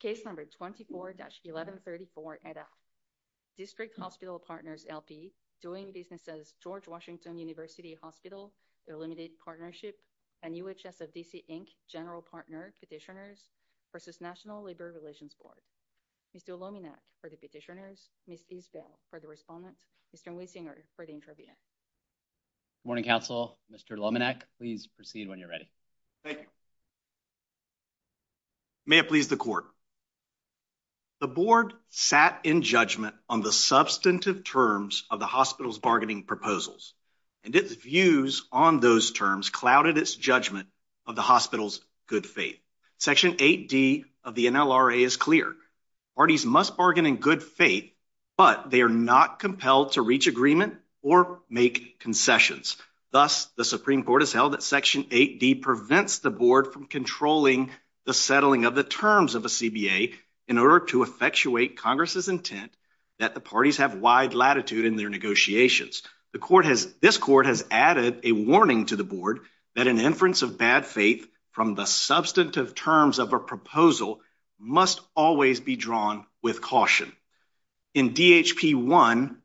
Case number 24-1134-NLRB. District Hospital Partners, L.P. doing business as George Washington University Hospital Illuminated Partnership and UHS of D.C. Inc. General Partner Petitioners v. National Labor Relations Board. Mr. Lominec for the petitioners, Ms. Isbell for the respondent, Mr. Weisinger for the interviewer. Good morning, counsel. Mr. Lominec, please proceed when you're ready. Thank you. May it please the court. The board sat in judgment on the substantive terms of the hospital's bargaining proposals, and its views on those terms clouded its judgment of the hospital's good faith. Section 8D of the NLRA is clear. Parties must bargain in good faith, but they are not compelled to reach agreement or make concessions. Thus, the Supreme Court has held that Section 8D prevents the board from controlling the settling of the terms of a CBA in order to effectuate Congress's intent that the parties have wide latitude in their negotiations. This court has added a warning to the board that an inference of bad faith from the substantive terms of a proposal must always be drawn with caution. In DHP 1,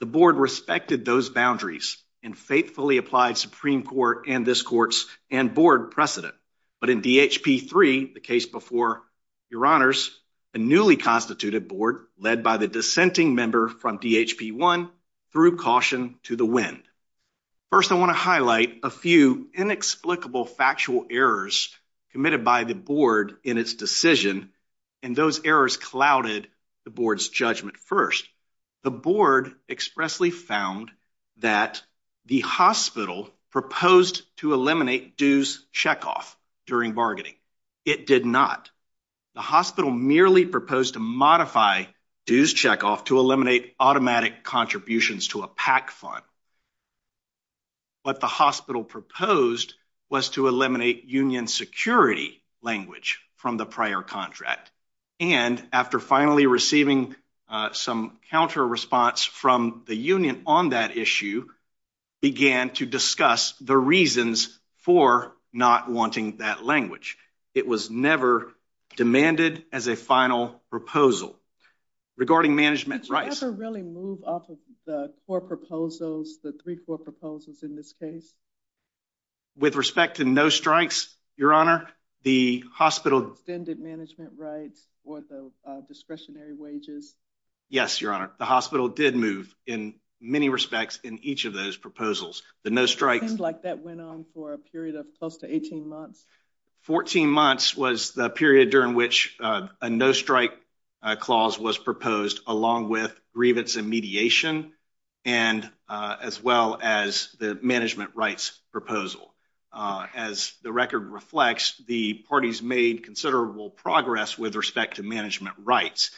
the board respected those boundaries and faithfully applied Supreme Court and this court's and board precedent. But in DHP 3, the case before your honors, a newly constituted board led by the dissenting member from DHP 1 through caution to the wind. First, I want to highlight a few inexplicable factual errors committed by the board in its decision, and those errors clouded the board's judgment. First, the board expressly found that the hospital proposed to eliminate dues check-off during bargaining. It did not. The hospital merely proposed to modify dues check-off to eliminate automatic contributions to a PAC fund. What the hospital proposed was to eliminate union security language from the prior contract, and after finally receiving some counter response from the union on that issue, began to discuss the reasons for not wanting that language. It was never demanded as a final proposal. Regarding management rights. Did you ever really move off of the four proposals, the three core proposals in this case? With respect to no strikes, your honor, the hospital... Extended management rights or the discretionary wages. Yes, your honor. The hospital did move in many respects in each of those proposals. The no strikes... It seemed like that went on for a period of close to 18 months. 14 months was the period during which a no strike clause was proposed along with grievance and mediation, and as well as the management rights proposal. As the record reflects, the parties made considerable progress with respect to management rights,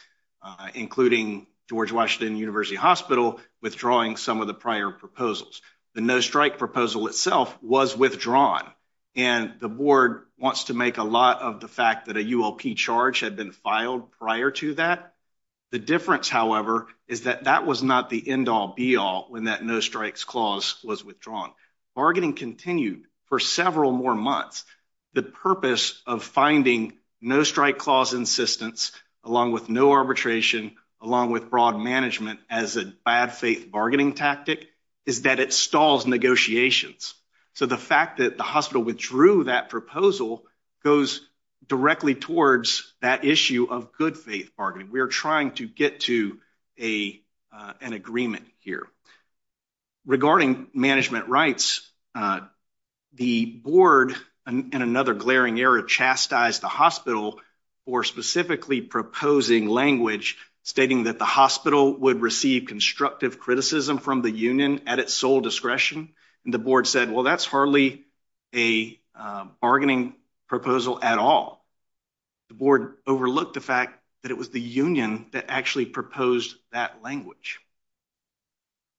including George Washington University Hospital withdrawing some of the prior proposals. The no strike proposal itself was withdrawn, and the board wants to make a lot of the fact that had been filed prior to that. The difference, however, is that that was not the end all be all when that no strikes clause was withdrawn. Bargaining continued for several more months. The purpose of finding no strike clause insistence, along with no arbitration, along with broad management as a bad faith bargaining tactic, is that it stalls negotiations. So, the fact that the hospital withdrew that proposal goes directly towards that issue of good faith bargaining. We are trying to get to an agreement here. Regarding management rights, the board, in another glaring error, chastised the hospital for specifically proposing language stating that the hospital would receive constructive criticism from the union at its sole discretion, and the board said, well, that's hardly a bargaining proposal at all. The board overlooked the fact that it was the union that actually proposed that language.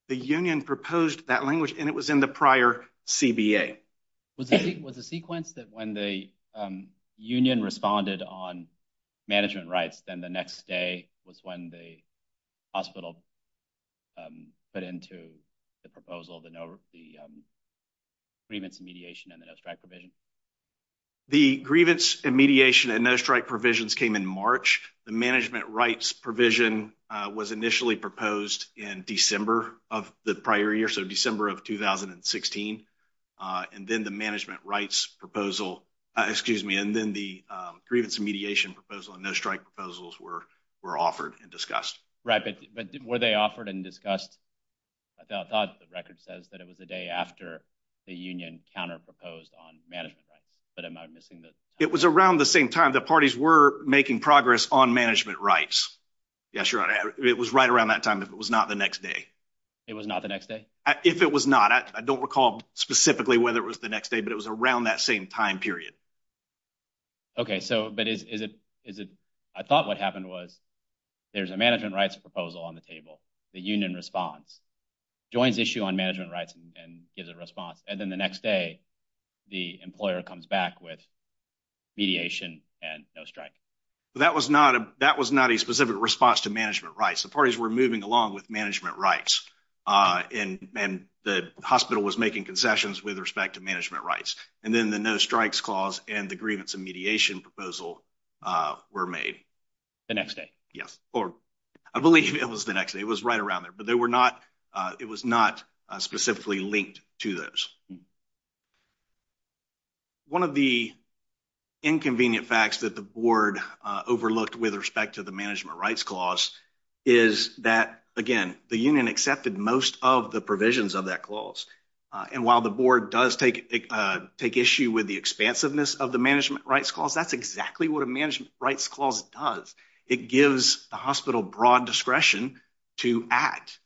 The union proposed that language, and it was in the prior CBA. Was the sequence that when the union responded on management rights, then the next day was when the hospital put into the proposal the grievance and mediation and the no strike provision? The grievance and mediation and no strike provisions came in March. The management rights provision was initially proposed in December of the prior year, so December of 2016, and then the management rights proposal, excuse me, and then the grievance and mediation proposal and no strike proposals were offered and discussed. Right, but were they offered and discussed? I thought the record says that it was the day after the union counter-proposed on management rights, but am I missing the time? It was around the same time. The parties were making progress on management rights. Yes, you're right. It was right around that time, if it was not the next day. It was not the next day? If it was not. I don't recall specifically whether it was the next day, but it was around that same time period. Okay, but I thought what happened was there's a management rights proposal on the table, the union responds, joins issue on management rights and gives a response, and then the next day the employer comes back with mediation and no strike. That was not a specific response to management rights. The parties were moving along with management rights, and the hospital was making concessions with respect to management rights, and then the no strikes clause and the grievance and mediation proposal were made. The next day? Yes, or I believe it was the next day. It was right around there, but they were not, it was not specifically linked to those. One of the inconvenient facts that the board overlooked with respect to the management rights clause is that, again, the union accepted most of the provisions of that clause, and while the board does take issue with the expansiveness of the management rights clause, that's exactly what a management rights clause does. It gives the hospital broad discretion to act.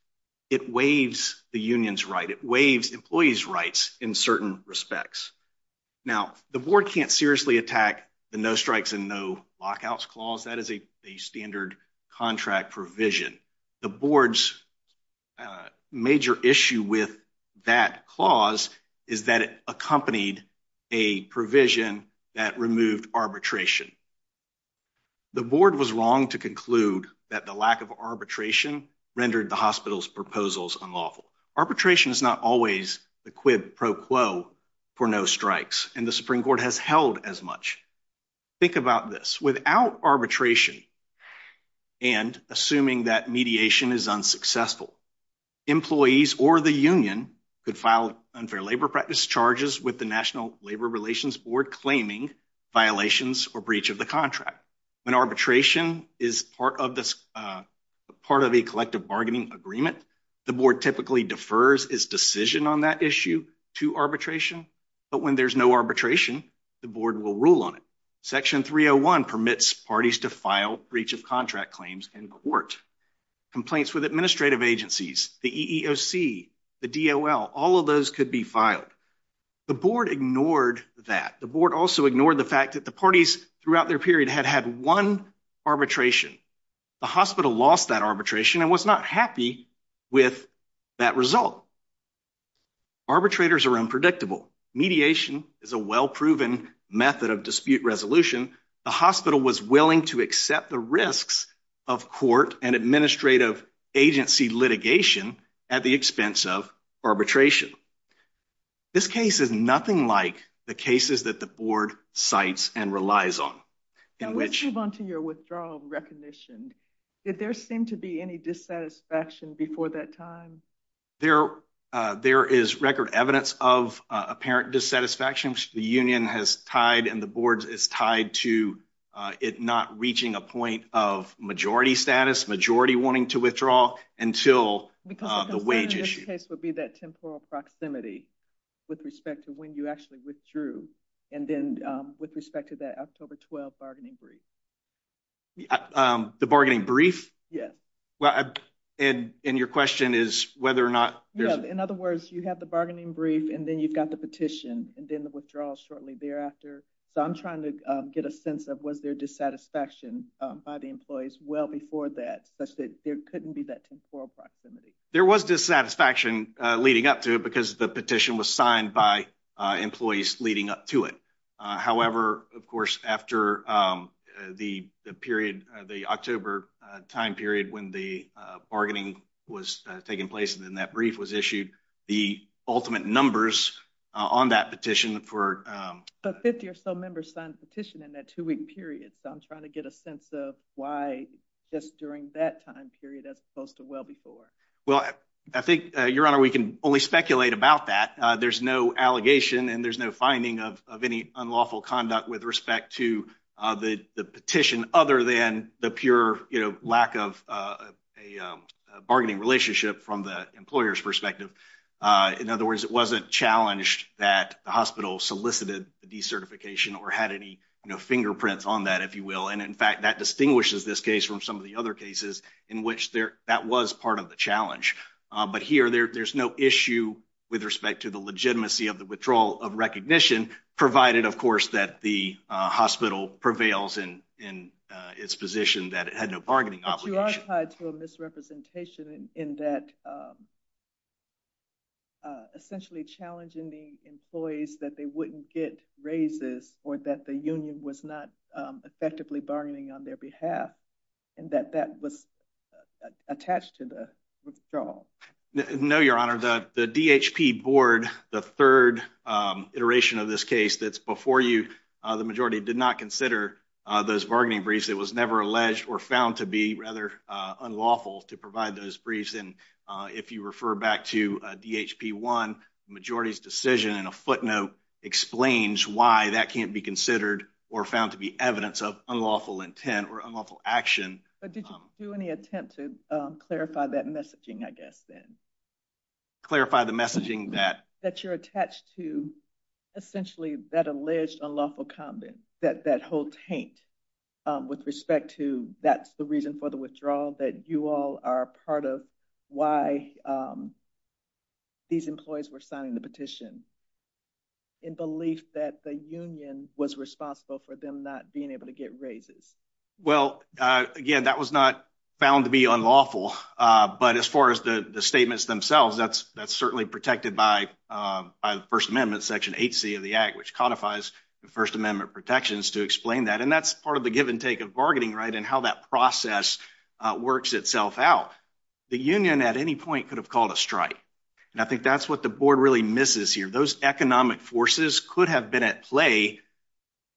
It waives the union's right. It waives employees' rights in certain respects. Now, the board can't seriously attack the no strikes and no lockouts clause. That is a standard contract provision. The board's major issue with that clause is that it accompanied a provision that removed arbitration. The board was wrong to conclude that the lack of arbitration rendered the hospital's proposals unlawful. Arbitration is not always the quid pro quo for no strikes, and the Supreme Court has held as much. Think about this. Without arbitration and assuming that mediation is unsuccessful, employees or the union could file unfair labor practice charges with the National Labor Relations Board claiming violations or breach of the contract. When arbitration is part of a collective bargaining agreement, the board typically defers its decision on that issue to arbitration, but when there's no arbitration, the board will rule on it. Section 301 permits parties to file breach of contract claims in court. Complaints with administrative agencies, the EEOC, the DOL, all of those could be filed. The board ignored that. The board also ignored the fact that the parties throughout their period had had one arbitration. The hospital lost that arbitration and was not happy with that result. Arbitrators are unpredictable. Mediation is a well-proven method of dispute resolution. The hospital was willing to accept the risks of court and administrative agency litigation at the expense of arbitration. This case is nothing like the cases that the board cites and relies on. Now, let's move on to your withdrawal recognition. Did there seem to be any dissatisfaction before that time? There is record evidence of apparent dissatisfaction. The union has tied and the board is tied to it not reaching a point of majority status, majority wanting to withdraw until the wage issue. Because what I'm saying in this case would be that temporal proximity with respect to when you actually withdrew and then with respect to that October 12th bargaining brief. The bargaining brief? Yes. And your question is whether or not there's... In other words, you have the bargaining brief and then you've got the petition and then the withdrawal shortly thereafter. So I'm trying to get a sense of was there dissatisfaction by the employees well before that such that there couldn't be that temporal proximity. There was dissatisfaction leading up to it because the petition was signed by employees leading up to it. However, of course, after the period, the October time period when the bargaining was taking place and then that brief was issued, the ultimate numbers on that petition for... But 50 or so members signed the petition in that two-week period. So I'm trying to get a sense of why just during that time period as opposed to well before. Well, I think, Your Honor, we can only speculate about that. There's no allegation and there's no finding of any unlawful conduct with respect to the petition other than the pure lack of a bargaining relationship from the employer's perspective. In other words, it wasn't challenged that the hospital solicited the decertification or had any fingerprints on that, if you will. And in fact, that distinguishes this case from some of the other cases in which that was part of the challenge. But here, there's no issue with respect to the legitimacy of the withdrawal of recognition provided, of course, that the hospital prevails in its position that it had no bargaining obligation. But you are tied to a misrepresentation in that essentially challenging the employees that they wouldn't get raises or that the union was not effectively bargaining on their behalf and that that was attached to the withdrawal. No, Your Honor. The DHP board, the third iteration of this case that's before you, the majority did not consider those bargaining briefs. It was never alleged or found to be rather unlawful to provide those briefs. And if you refer back to DHP one, majority's decision in a footnote explains why that can't be considered or found to be evidence of unlawful intent or unlawful action. But did you do any attempt to clarify that messaging, I guess, then? Clarify the messaging that... That you're attached to essentially that alleged unlawful comment, that whole taint with respect to that's the reason for the withdrawal, that you all are part of why these employees were signing the petition in belief that the union was responsible for them not being able to get raises. Well, again, that was not found to be unlawful. But as far as the statements themselves, that's certainly protected by the First Amendment, Section 8C of the Act, which codifies the First Amendment protections to explain that. And that's part of the give and take of bargaining, right, and how that process works itself out. The union at any point could have called a strike. And I think that's what the board really misses here. Those economic forces could have been at play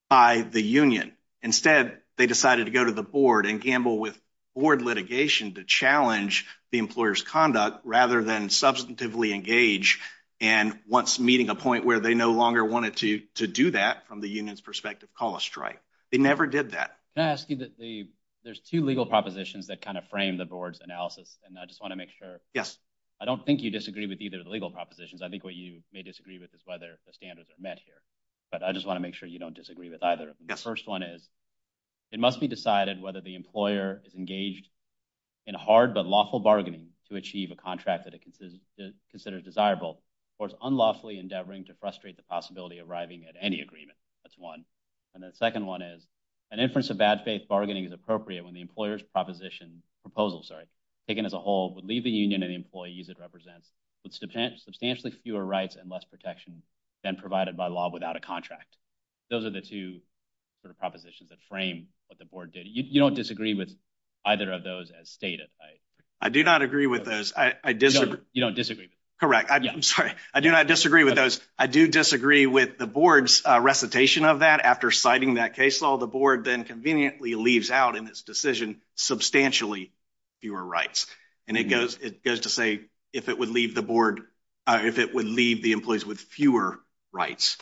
by the union. Instead, they decided to go to the board and gamble with board litigation to challenge the employer's conduct rather than substantively engage. And once meeting a point where they no longer wanted to do that from the union's perspective, call a strike. They never did that. Can I ask you that there's two legal propositions that kind of frame the board's analysis. And I just want to make sure. Yes. I don't think you disagree with either of the legal propositions. I think what you may disagree with is whether the standards are met here. But I just want to make sure you don't disagree with either. The first one is it must be decided whether the employer is engaged in hard but lawful bargaining to achieve a contract that it considers desirable or is unlawfully endeavoring to frustrate the possibility of arriving at any agreement. That's one. And the second one is an inference of bad faith bargaining is appropriate when the employer's proposition proposals are taken as a whole would leave the union and employees. It represents substantially fewer rights and less protection than provided by law without a contract. Those are the two sort of propositions that frame what the board did. You don't disagree with either of those as stated. I do not agree with those. I disagree. You don't disagree. Correct. I'm sorry. I do not disagree with those. I do disagree with the board's recitation of that after citing that case law. The board then conveniently leaves out in its decision substantially fewer rights. And it goes it goes to say if it would leave the board if it would leave the employees with fewer rights.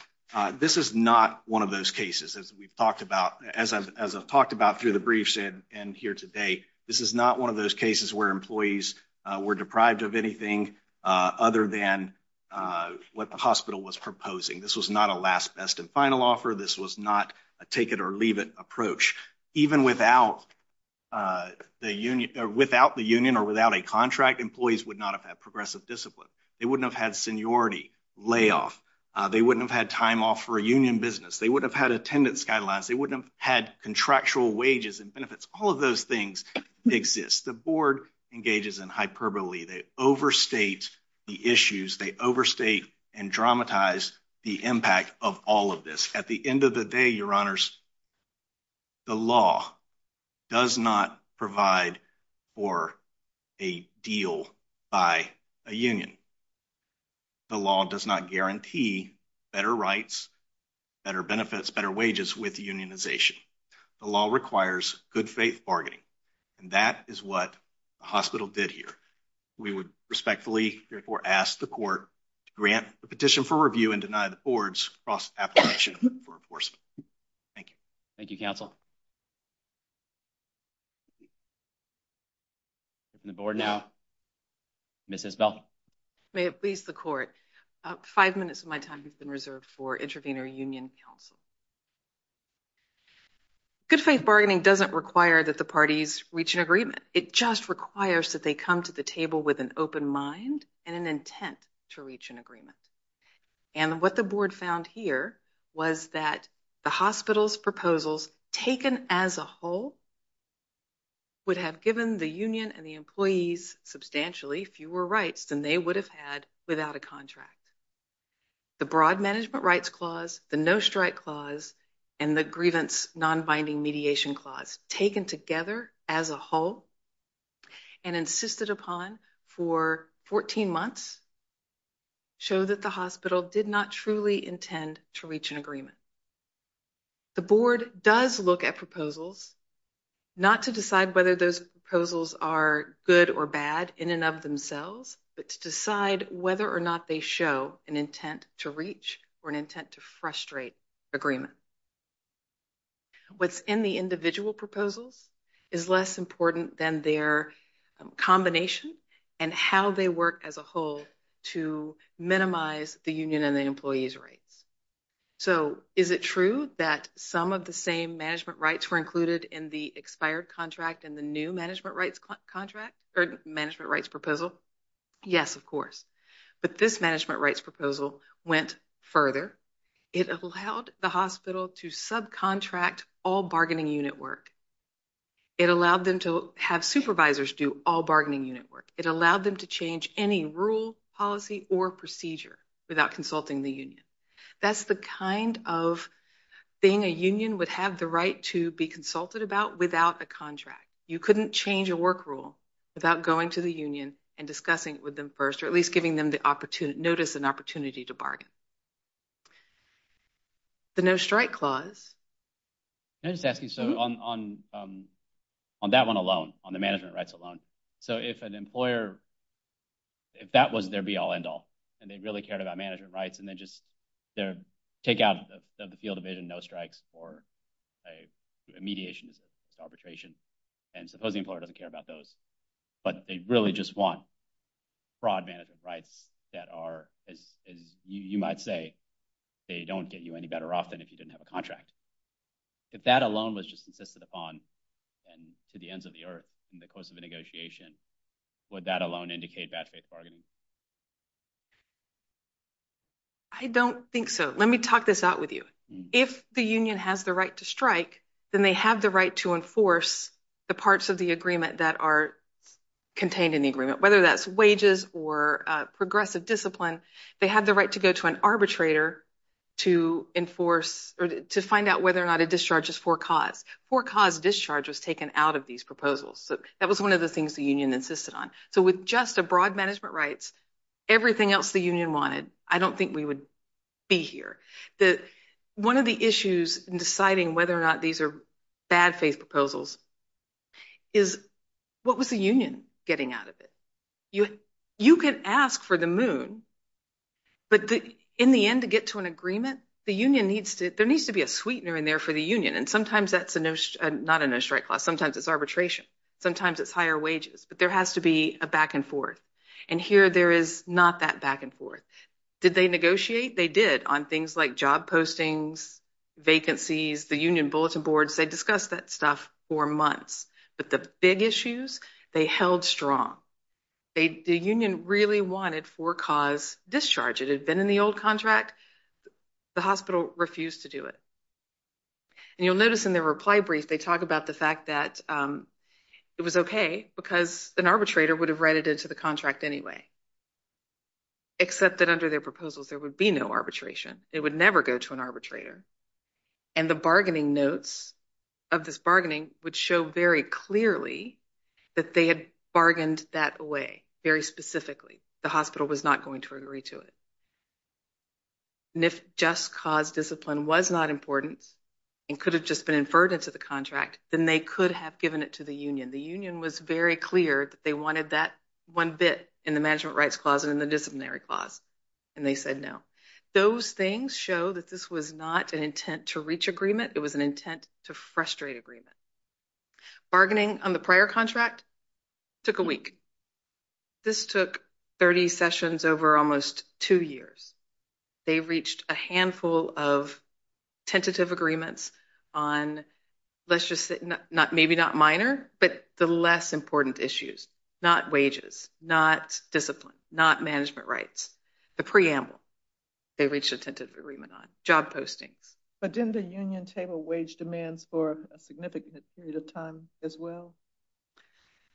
This is not one of those cases as we've talked about as I've talked about through the briefs and here today. This is not one of those cases where employees were deprived of anything other than what the hospital was proposing. This was not a last best and final offer. This was not a take it or leave it approach. Even without the union or without a contract, employees would not have had progressive discipline. They wouldn't have had seniority layoff. They wouldn't have had time off for a union business. They wouldn't have had attendance guidelines. They wouldn't have had contractual wages and benefits. All of those things exist. The board engages in hyperbole. They overstate the issues. They overstate and dramatize the impact of all of this. At the end of the day, your honors, the law does not provide for a deal by a union. The law does not guarantee better rights, better benefits, better wages with unionization. The law requires good faith bargaining and that is what the hospital did here. We would respectfully ask the court to grant the petition for review and deny the board's cross-application for enforcement. Thank you. Thank you, counsel. The board now, Ms. Isbell. May it please the court, five minutes of my time has been reserved for intravenous union counsel. Good faith bargaining doesn't require that the parties reach an agreement. It just requires that they come to the table with an open mind and an intent to reach an agreement. And what the board found here was that the hospital's proposals taken as a whole would have given the union and the employees substantially fewer rights than they would have had without a contract. The broad management rights clause, the no strike clause, and the insisted upon for 14 months show that the hospital did not truly intend to reach an agreement. The board does look at proposals, not to decide whether those proposals are good or bad in and of themselves, but to decide whether or not they show an intent to reach or an intent to frustrate agreement. What's in the individual proposals is less important than their combination and how they work as a whole to minimize the union and the employee's rights. So is it true that some of the same management rights were included in the expired contract and the new management rights contract or management rights proposal? Yes, of course. But this management rights proposal went further. It allowed the hospital to subcontract all bargaining unit work. It allowed them to have supervisors do all bargaining unit work. It allowed them to change any rule, policy, or procedure without consulting the union. That's the kind of thing a union would have the right to be consulted about without a contract. You couldn't change a work rule without going to the union and discussing it with them first, or at least giving them the opportunity notice and opportunity to bargain. The no-strike clause. I'm just asking, so on that one alone, on the management rights alone, so if an employer, if that was their be-all end-all, and they really cared about management rights, and then just their take out of the field of vision no strikes or a mediation arbitration, and suppose the employer doesn't care about those, but they really just want broad management rights that are, as you might say, they don't get you any better off than if you didn't have a contract. If that alone was just insisted upon and to the ends of the earth in the course of a negotiation, would that alone indicate bad faith bargaining? I don't think so. Let me talk this out with you. If the union has the right to strike, then they have the right to enforce the parts of the agreement that are contained in the agreement. Whether that's wages or progressive discipline, they have the right to go to an arbitrator to enforce or to find out whether or not a discharge is for cause. For cause discharge was taken out of these proposals. That was one of the things the union insisted on. So with just a broad management rights, everything else the union wanted, I don't think we would be here. The one of the issues in deciding whether or not these are bad faith proposals is, what was the union getting out of it? You can ask for the moon, but in the end to get to an agreement, the union needs to, there needs to be a sweetener in there for the union. And sometimes that's not a no strike clause. Sometimes it's arbitration. Sometimes it's higher wages, but there has to be a back and forth. And here there is not that back and forth. Did they negotiate? They did on things like job postings, vacancies, the union bulletin boards. They discussed that stuff for months. But the big issues, they held strong. The union really wanted for cause discharge. It had been in the old contract. The hospital refused to do it. And you'll notice in their reply brief, they talk about the fact that it was okay because an arbitrator would have read it into the contract anyway, except that under their proposals, there would be no arbitration. It would never go to an arbitrator. And the bargaining notes of this bargaining would show very clearly that they had bargained that away very specifically. The hospital was not going to agree to it. And if just cause discipline was not important and could have just been inferred into the contract, then they could have given it to the union. The union was very clear that they wanted that one bit in the management rights clause and in the disciplinary clause. And they said no. Those things show that this was not an intent to reach agreement. It was an intent to frustrate agreement. Bargaining on the prior contract took a week. This took 30 sessions over almost two years. They reached a handful of tentative agreements on, let's just say, maybe not minor, but the less important issues. Not wages, not discipline, not management rights. The preamble they reached a tentative agreement on. Job postings. But didn't the union table wage demands for a significant period of time as well?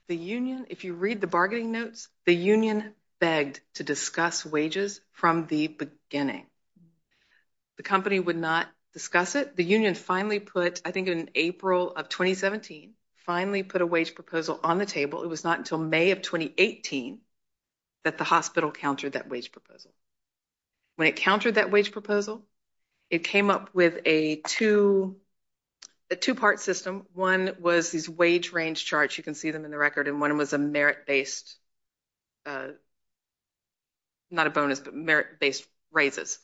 The union, if you read the bargaining notes, the union begged to discuss wages from the beginning. The company would not discuss it. The union finally put, I think in April of 2017, finally put a wage proposal on the table. It was not until May of 2018 that the hospital countered that wage proposal. When it countered that wage proposal, it came up with a two part system. One was these wage range charts. You can see them in the record. And one was a merit based, not a bonus, but merit based raises.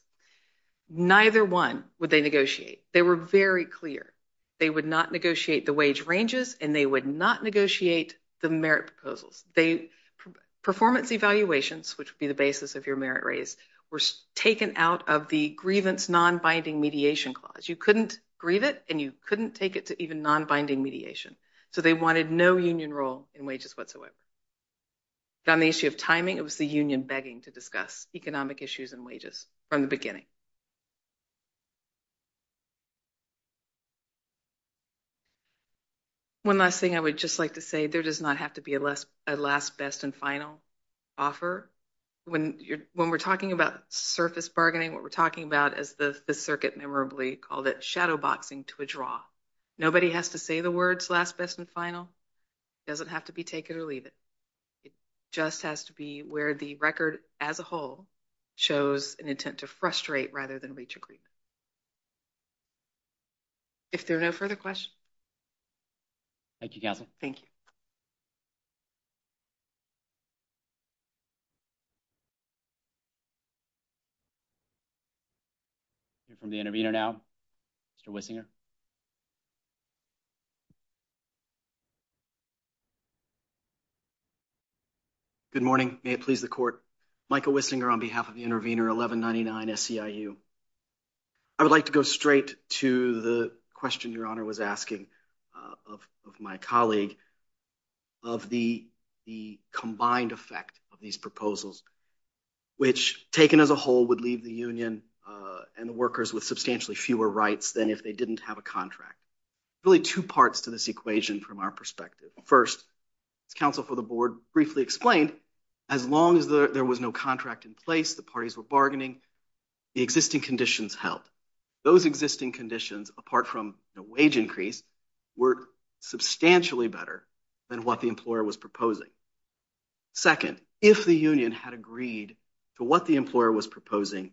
Neither one would negotiate. They were very clear. They would not negotiate the wage ranges and they would not negotiate the merit proposals. Performance evaluations, which would be the basis of your merit raise, were taken out of the grievance non-binding mediation clause. You couldn't grieve it and you couldn't take it to even non-binding mediation. So they wanted no union role in wages whatsoever. But on the issue of timing, it was the union begging to discuss it. One last thing I would just like to say, there does not have to be a last best and final offer. When we're talking about surface bargaining, what we're talking about as the circuit memorably called it, shadow boxing to a draw. Nobody has to say the words last best and final. It doesn't have to be take it or leave it. It just has to be where the record as a whole shows an intent to frustrate rather than reach agreement. If there are no further questions. Thank you, Castle. Thank you. We're from the intervener now, Mr. Wissinger. Good morning. May it please the court. Michael Wissinger on behalf of the intervener 1199 SEIU. I would like to go straight to the question your honor was asking of my colleague of the combined effect of these proposals, which taken as a whole would leave the union and the workers with substantially fewer rights than if they didn't have a contract. Really two parts to this equation from our perspective. First, as counsel for the board briefly explained, as long as there was no contract in place, the parties were bargaining, the existing conditions helped. Those existing conditions apart from a wage increase were substantially better than what the employer was proposing. Second, if the union had agreed to what the employer was proposing,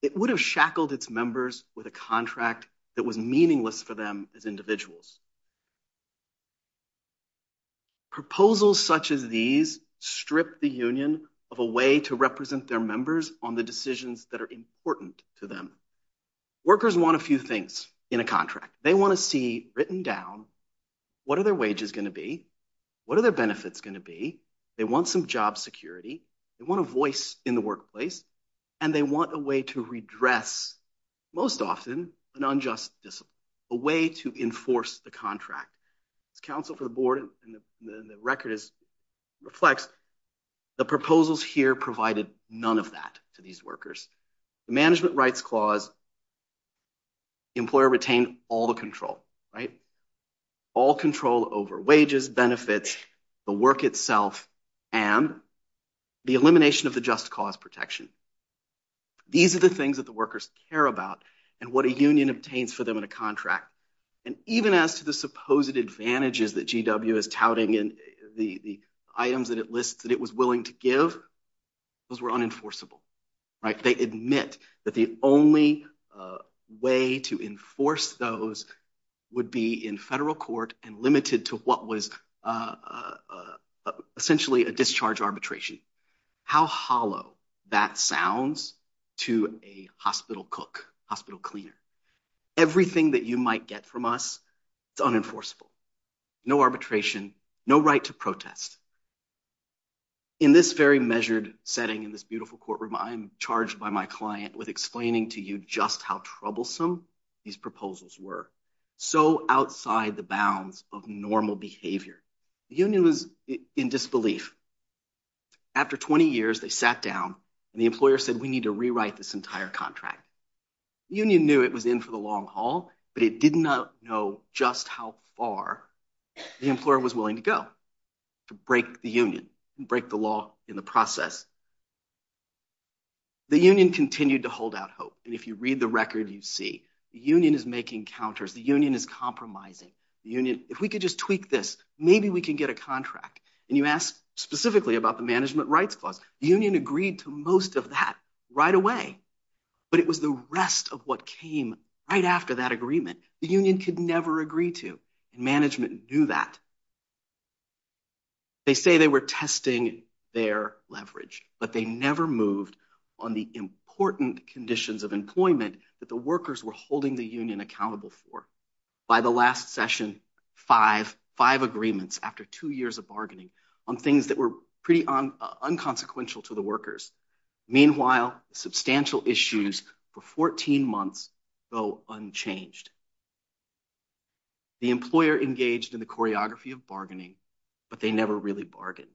it would have shackled its members with a contract that was meaningless for them as individuals. Proposals such as these strip the union of a way to represent their members on the decisions that are important to them. Workers want a few things in a contract. They want to see written down what are their wages going to be, what are their benefits going to be, they want some job security, they want a voice in the workplace, and they want a way to redress most often an unjust discipline, a way to enforce the contract. As counsel for the board and the record reflects, the proposals here provided none of that to these workers. The management rights clause, employer retained all the control, right? All control over wages, benefits, the work itself, and the elimination of the just cause protection. These are the things that the workers care about and what a union obtains for them in a contract. And even as to the supposed advantages that GW is touting in the items that it lists that it was willing to give, those were unenforceable, right? They admit that the only way to enforce those would be in federal court and limited to what was essentially a discharge arbitration. How hollow that sounds to a hospital cook, hospital cleaner. Everything that you might get from us, it's unenforceable. No arbitration, no right to protest. In this very measured setting, in this beautiful courtroom, I'm charged by my client with explaining to you just how troublesome these proposals were. So outside the bounds of normal behavior, the union was in disbelief. After 20 years, they sat down and the employer said, we need to rewrite this entire contract. The union knew it was in for the long haul, but it did not know just how far the employer was willing to go to break the union and break the law in the process. The union continued to hold out hope. And if you read the record, you see the union is making counters. The union is compromising. The union, if we could just tweak this, maybe we can get a contract. And you asked specifically about the management rights clause. The union agreed to most of that right away, but it was the rest of what came right after that agreement. The union could never agree to, and management knew that. They say they were testing their leverage, but they never moved on the important conditions of employment that the workers were holding the union accountable for. By the last session, five agreements after two years of bargaining on things that were pretty unconsequential to the workers. Meanwhile, substantial issues for 14 months go unchanged. The employer engaged in the choreography of bargaining, but they never really bargained.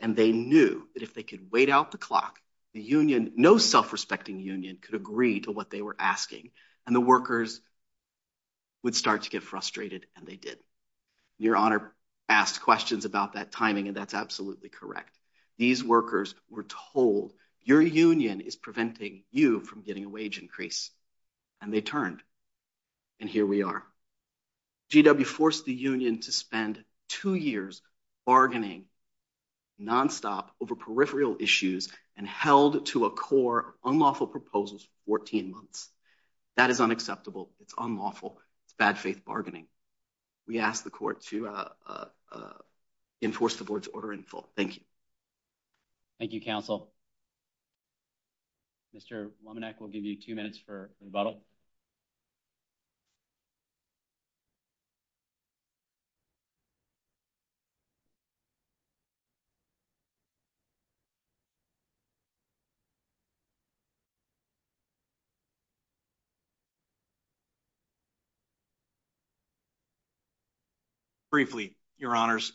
And they knew that if they could wait out the clock, the union, no self-respecting union, could agree to what they were asking. And the workers would start to get frustrated, and they did. Your Honor asked questions about that timing, and that's absolutely correct. These workers were told, your union is preventing you from getting a wage increase. And they turned. And here we are. GW forced the union to spend two years bargaining nonstop over peripheral issues and held to a core unlawful proposals for 14 months. That is unacceptable. It's unlawful. It's bad faith bargaining. We ask the court to enforce the board's order in full. Thank you. Thank you, counsel. Mr. Wominek, we'll give you two minutes for rebuttal. Briefly, your honors,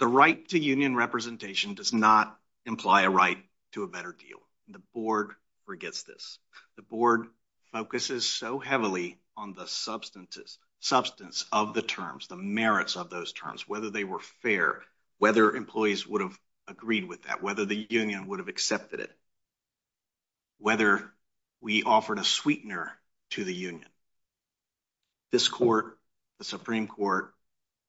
the right to union representation does not imply a right to a better deal. The board forgets this. The board focuses so heavily on the substance of the terms, the merits of those terms, whether they were fair, whether employees would have agreed with that, whether the union would have accepted it, whether we offered a sweetener to the union. This court, the Supreme Court,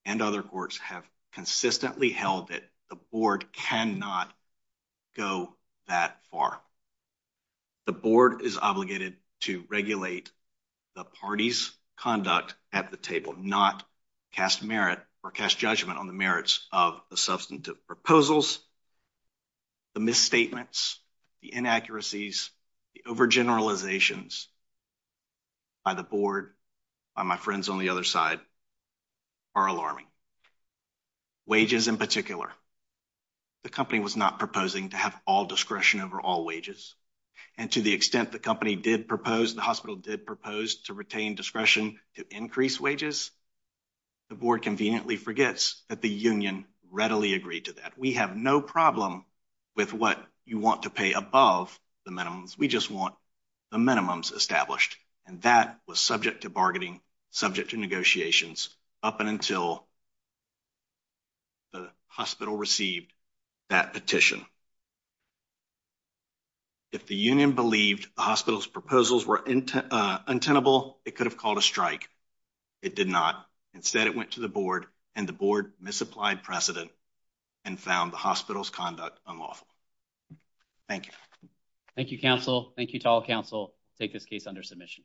and other courts have consistently held that the board cannot go that far. The board is obligated to regulate the party's conduct at the table, not cast merit or cast judgment on the merits of the substantive proposals, the misstatements, the inaccuracies, the overgeneralizations by the board, by my friends on the other side are alarming. Wages in particular, the company was not proposing to have all discretion over all wages, and to the extent the company did propose, the hospital did propose to retain discretion to increase wages, the board conveniently forgets that the union readily agreed to that. We have no problem with what you want to pay above the minimums. We just want the minimums established, and that was subject to bargaining, subject to negotiations up and until the hospital received that petition. If the union believed the hospital's proposals were untenable, it could have called a strike. It did not. Instead, it went to the board, and the board misapplied precedent and found the hospital's conduct unlawful. Thank you. Thank you, counsel. Thank you to all counsel. Take this case under submission.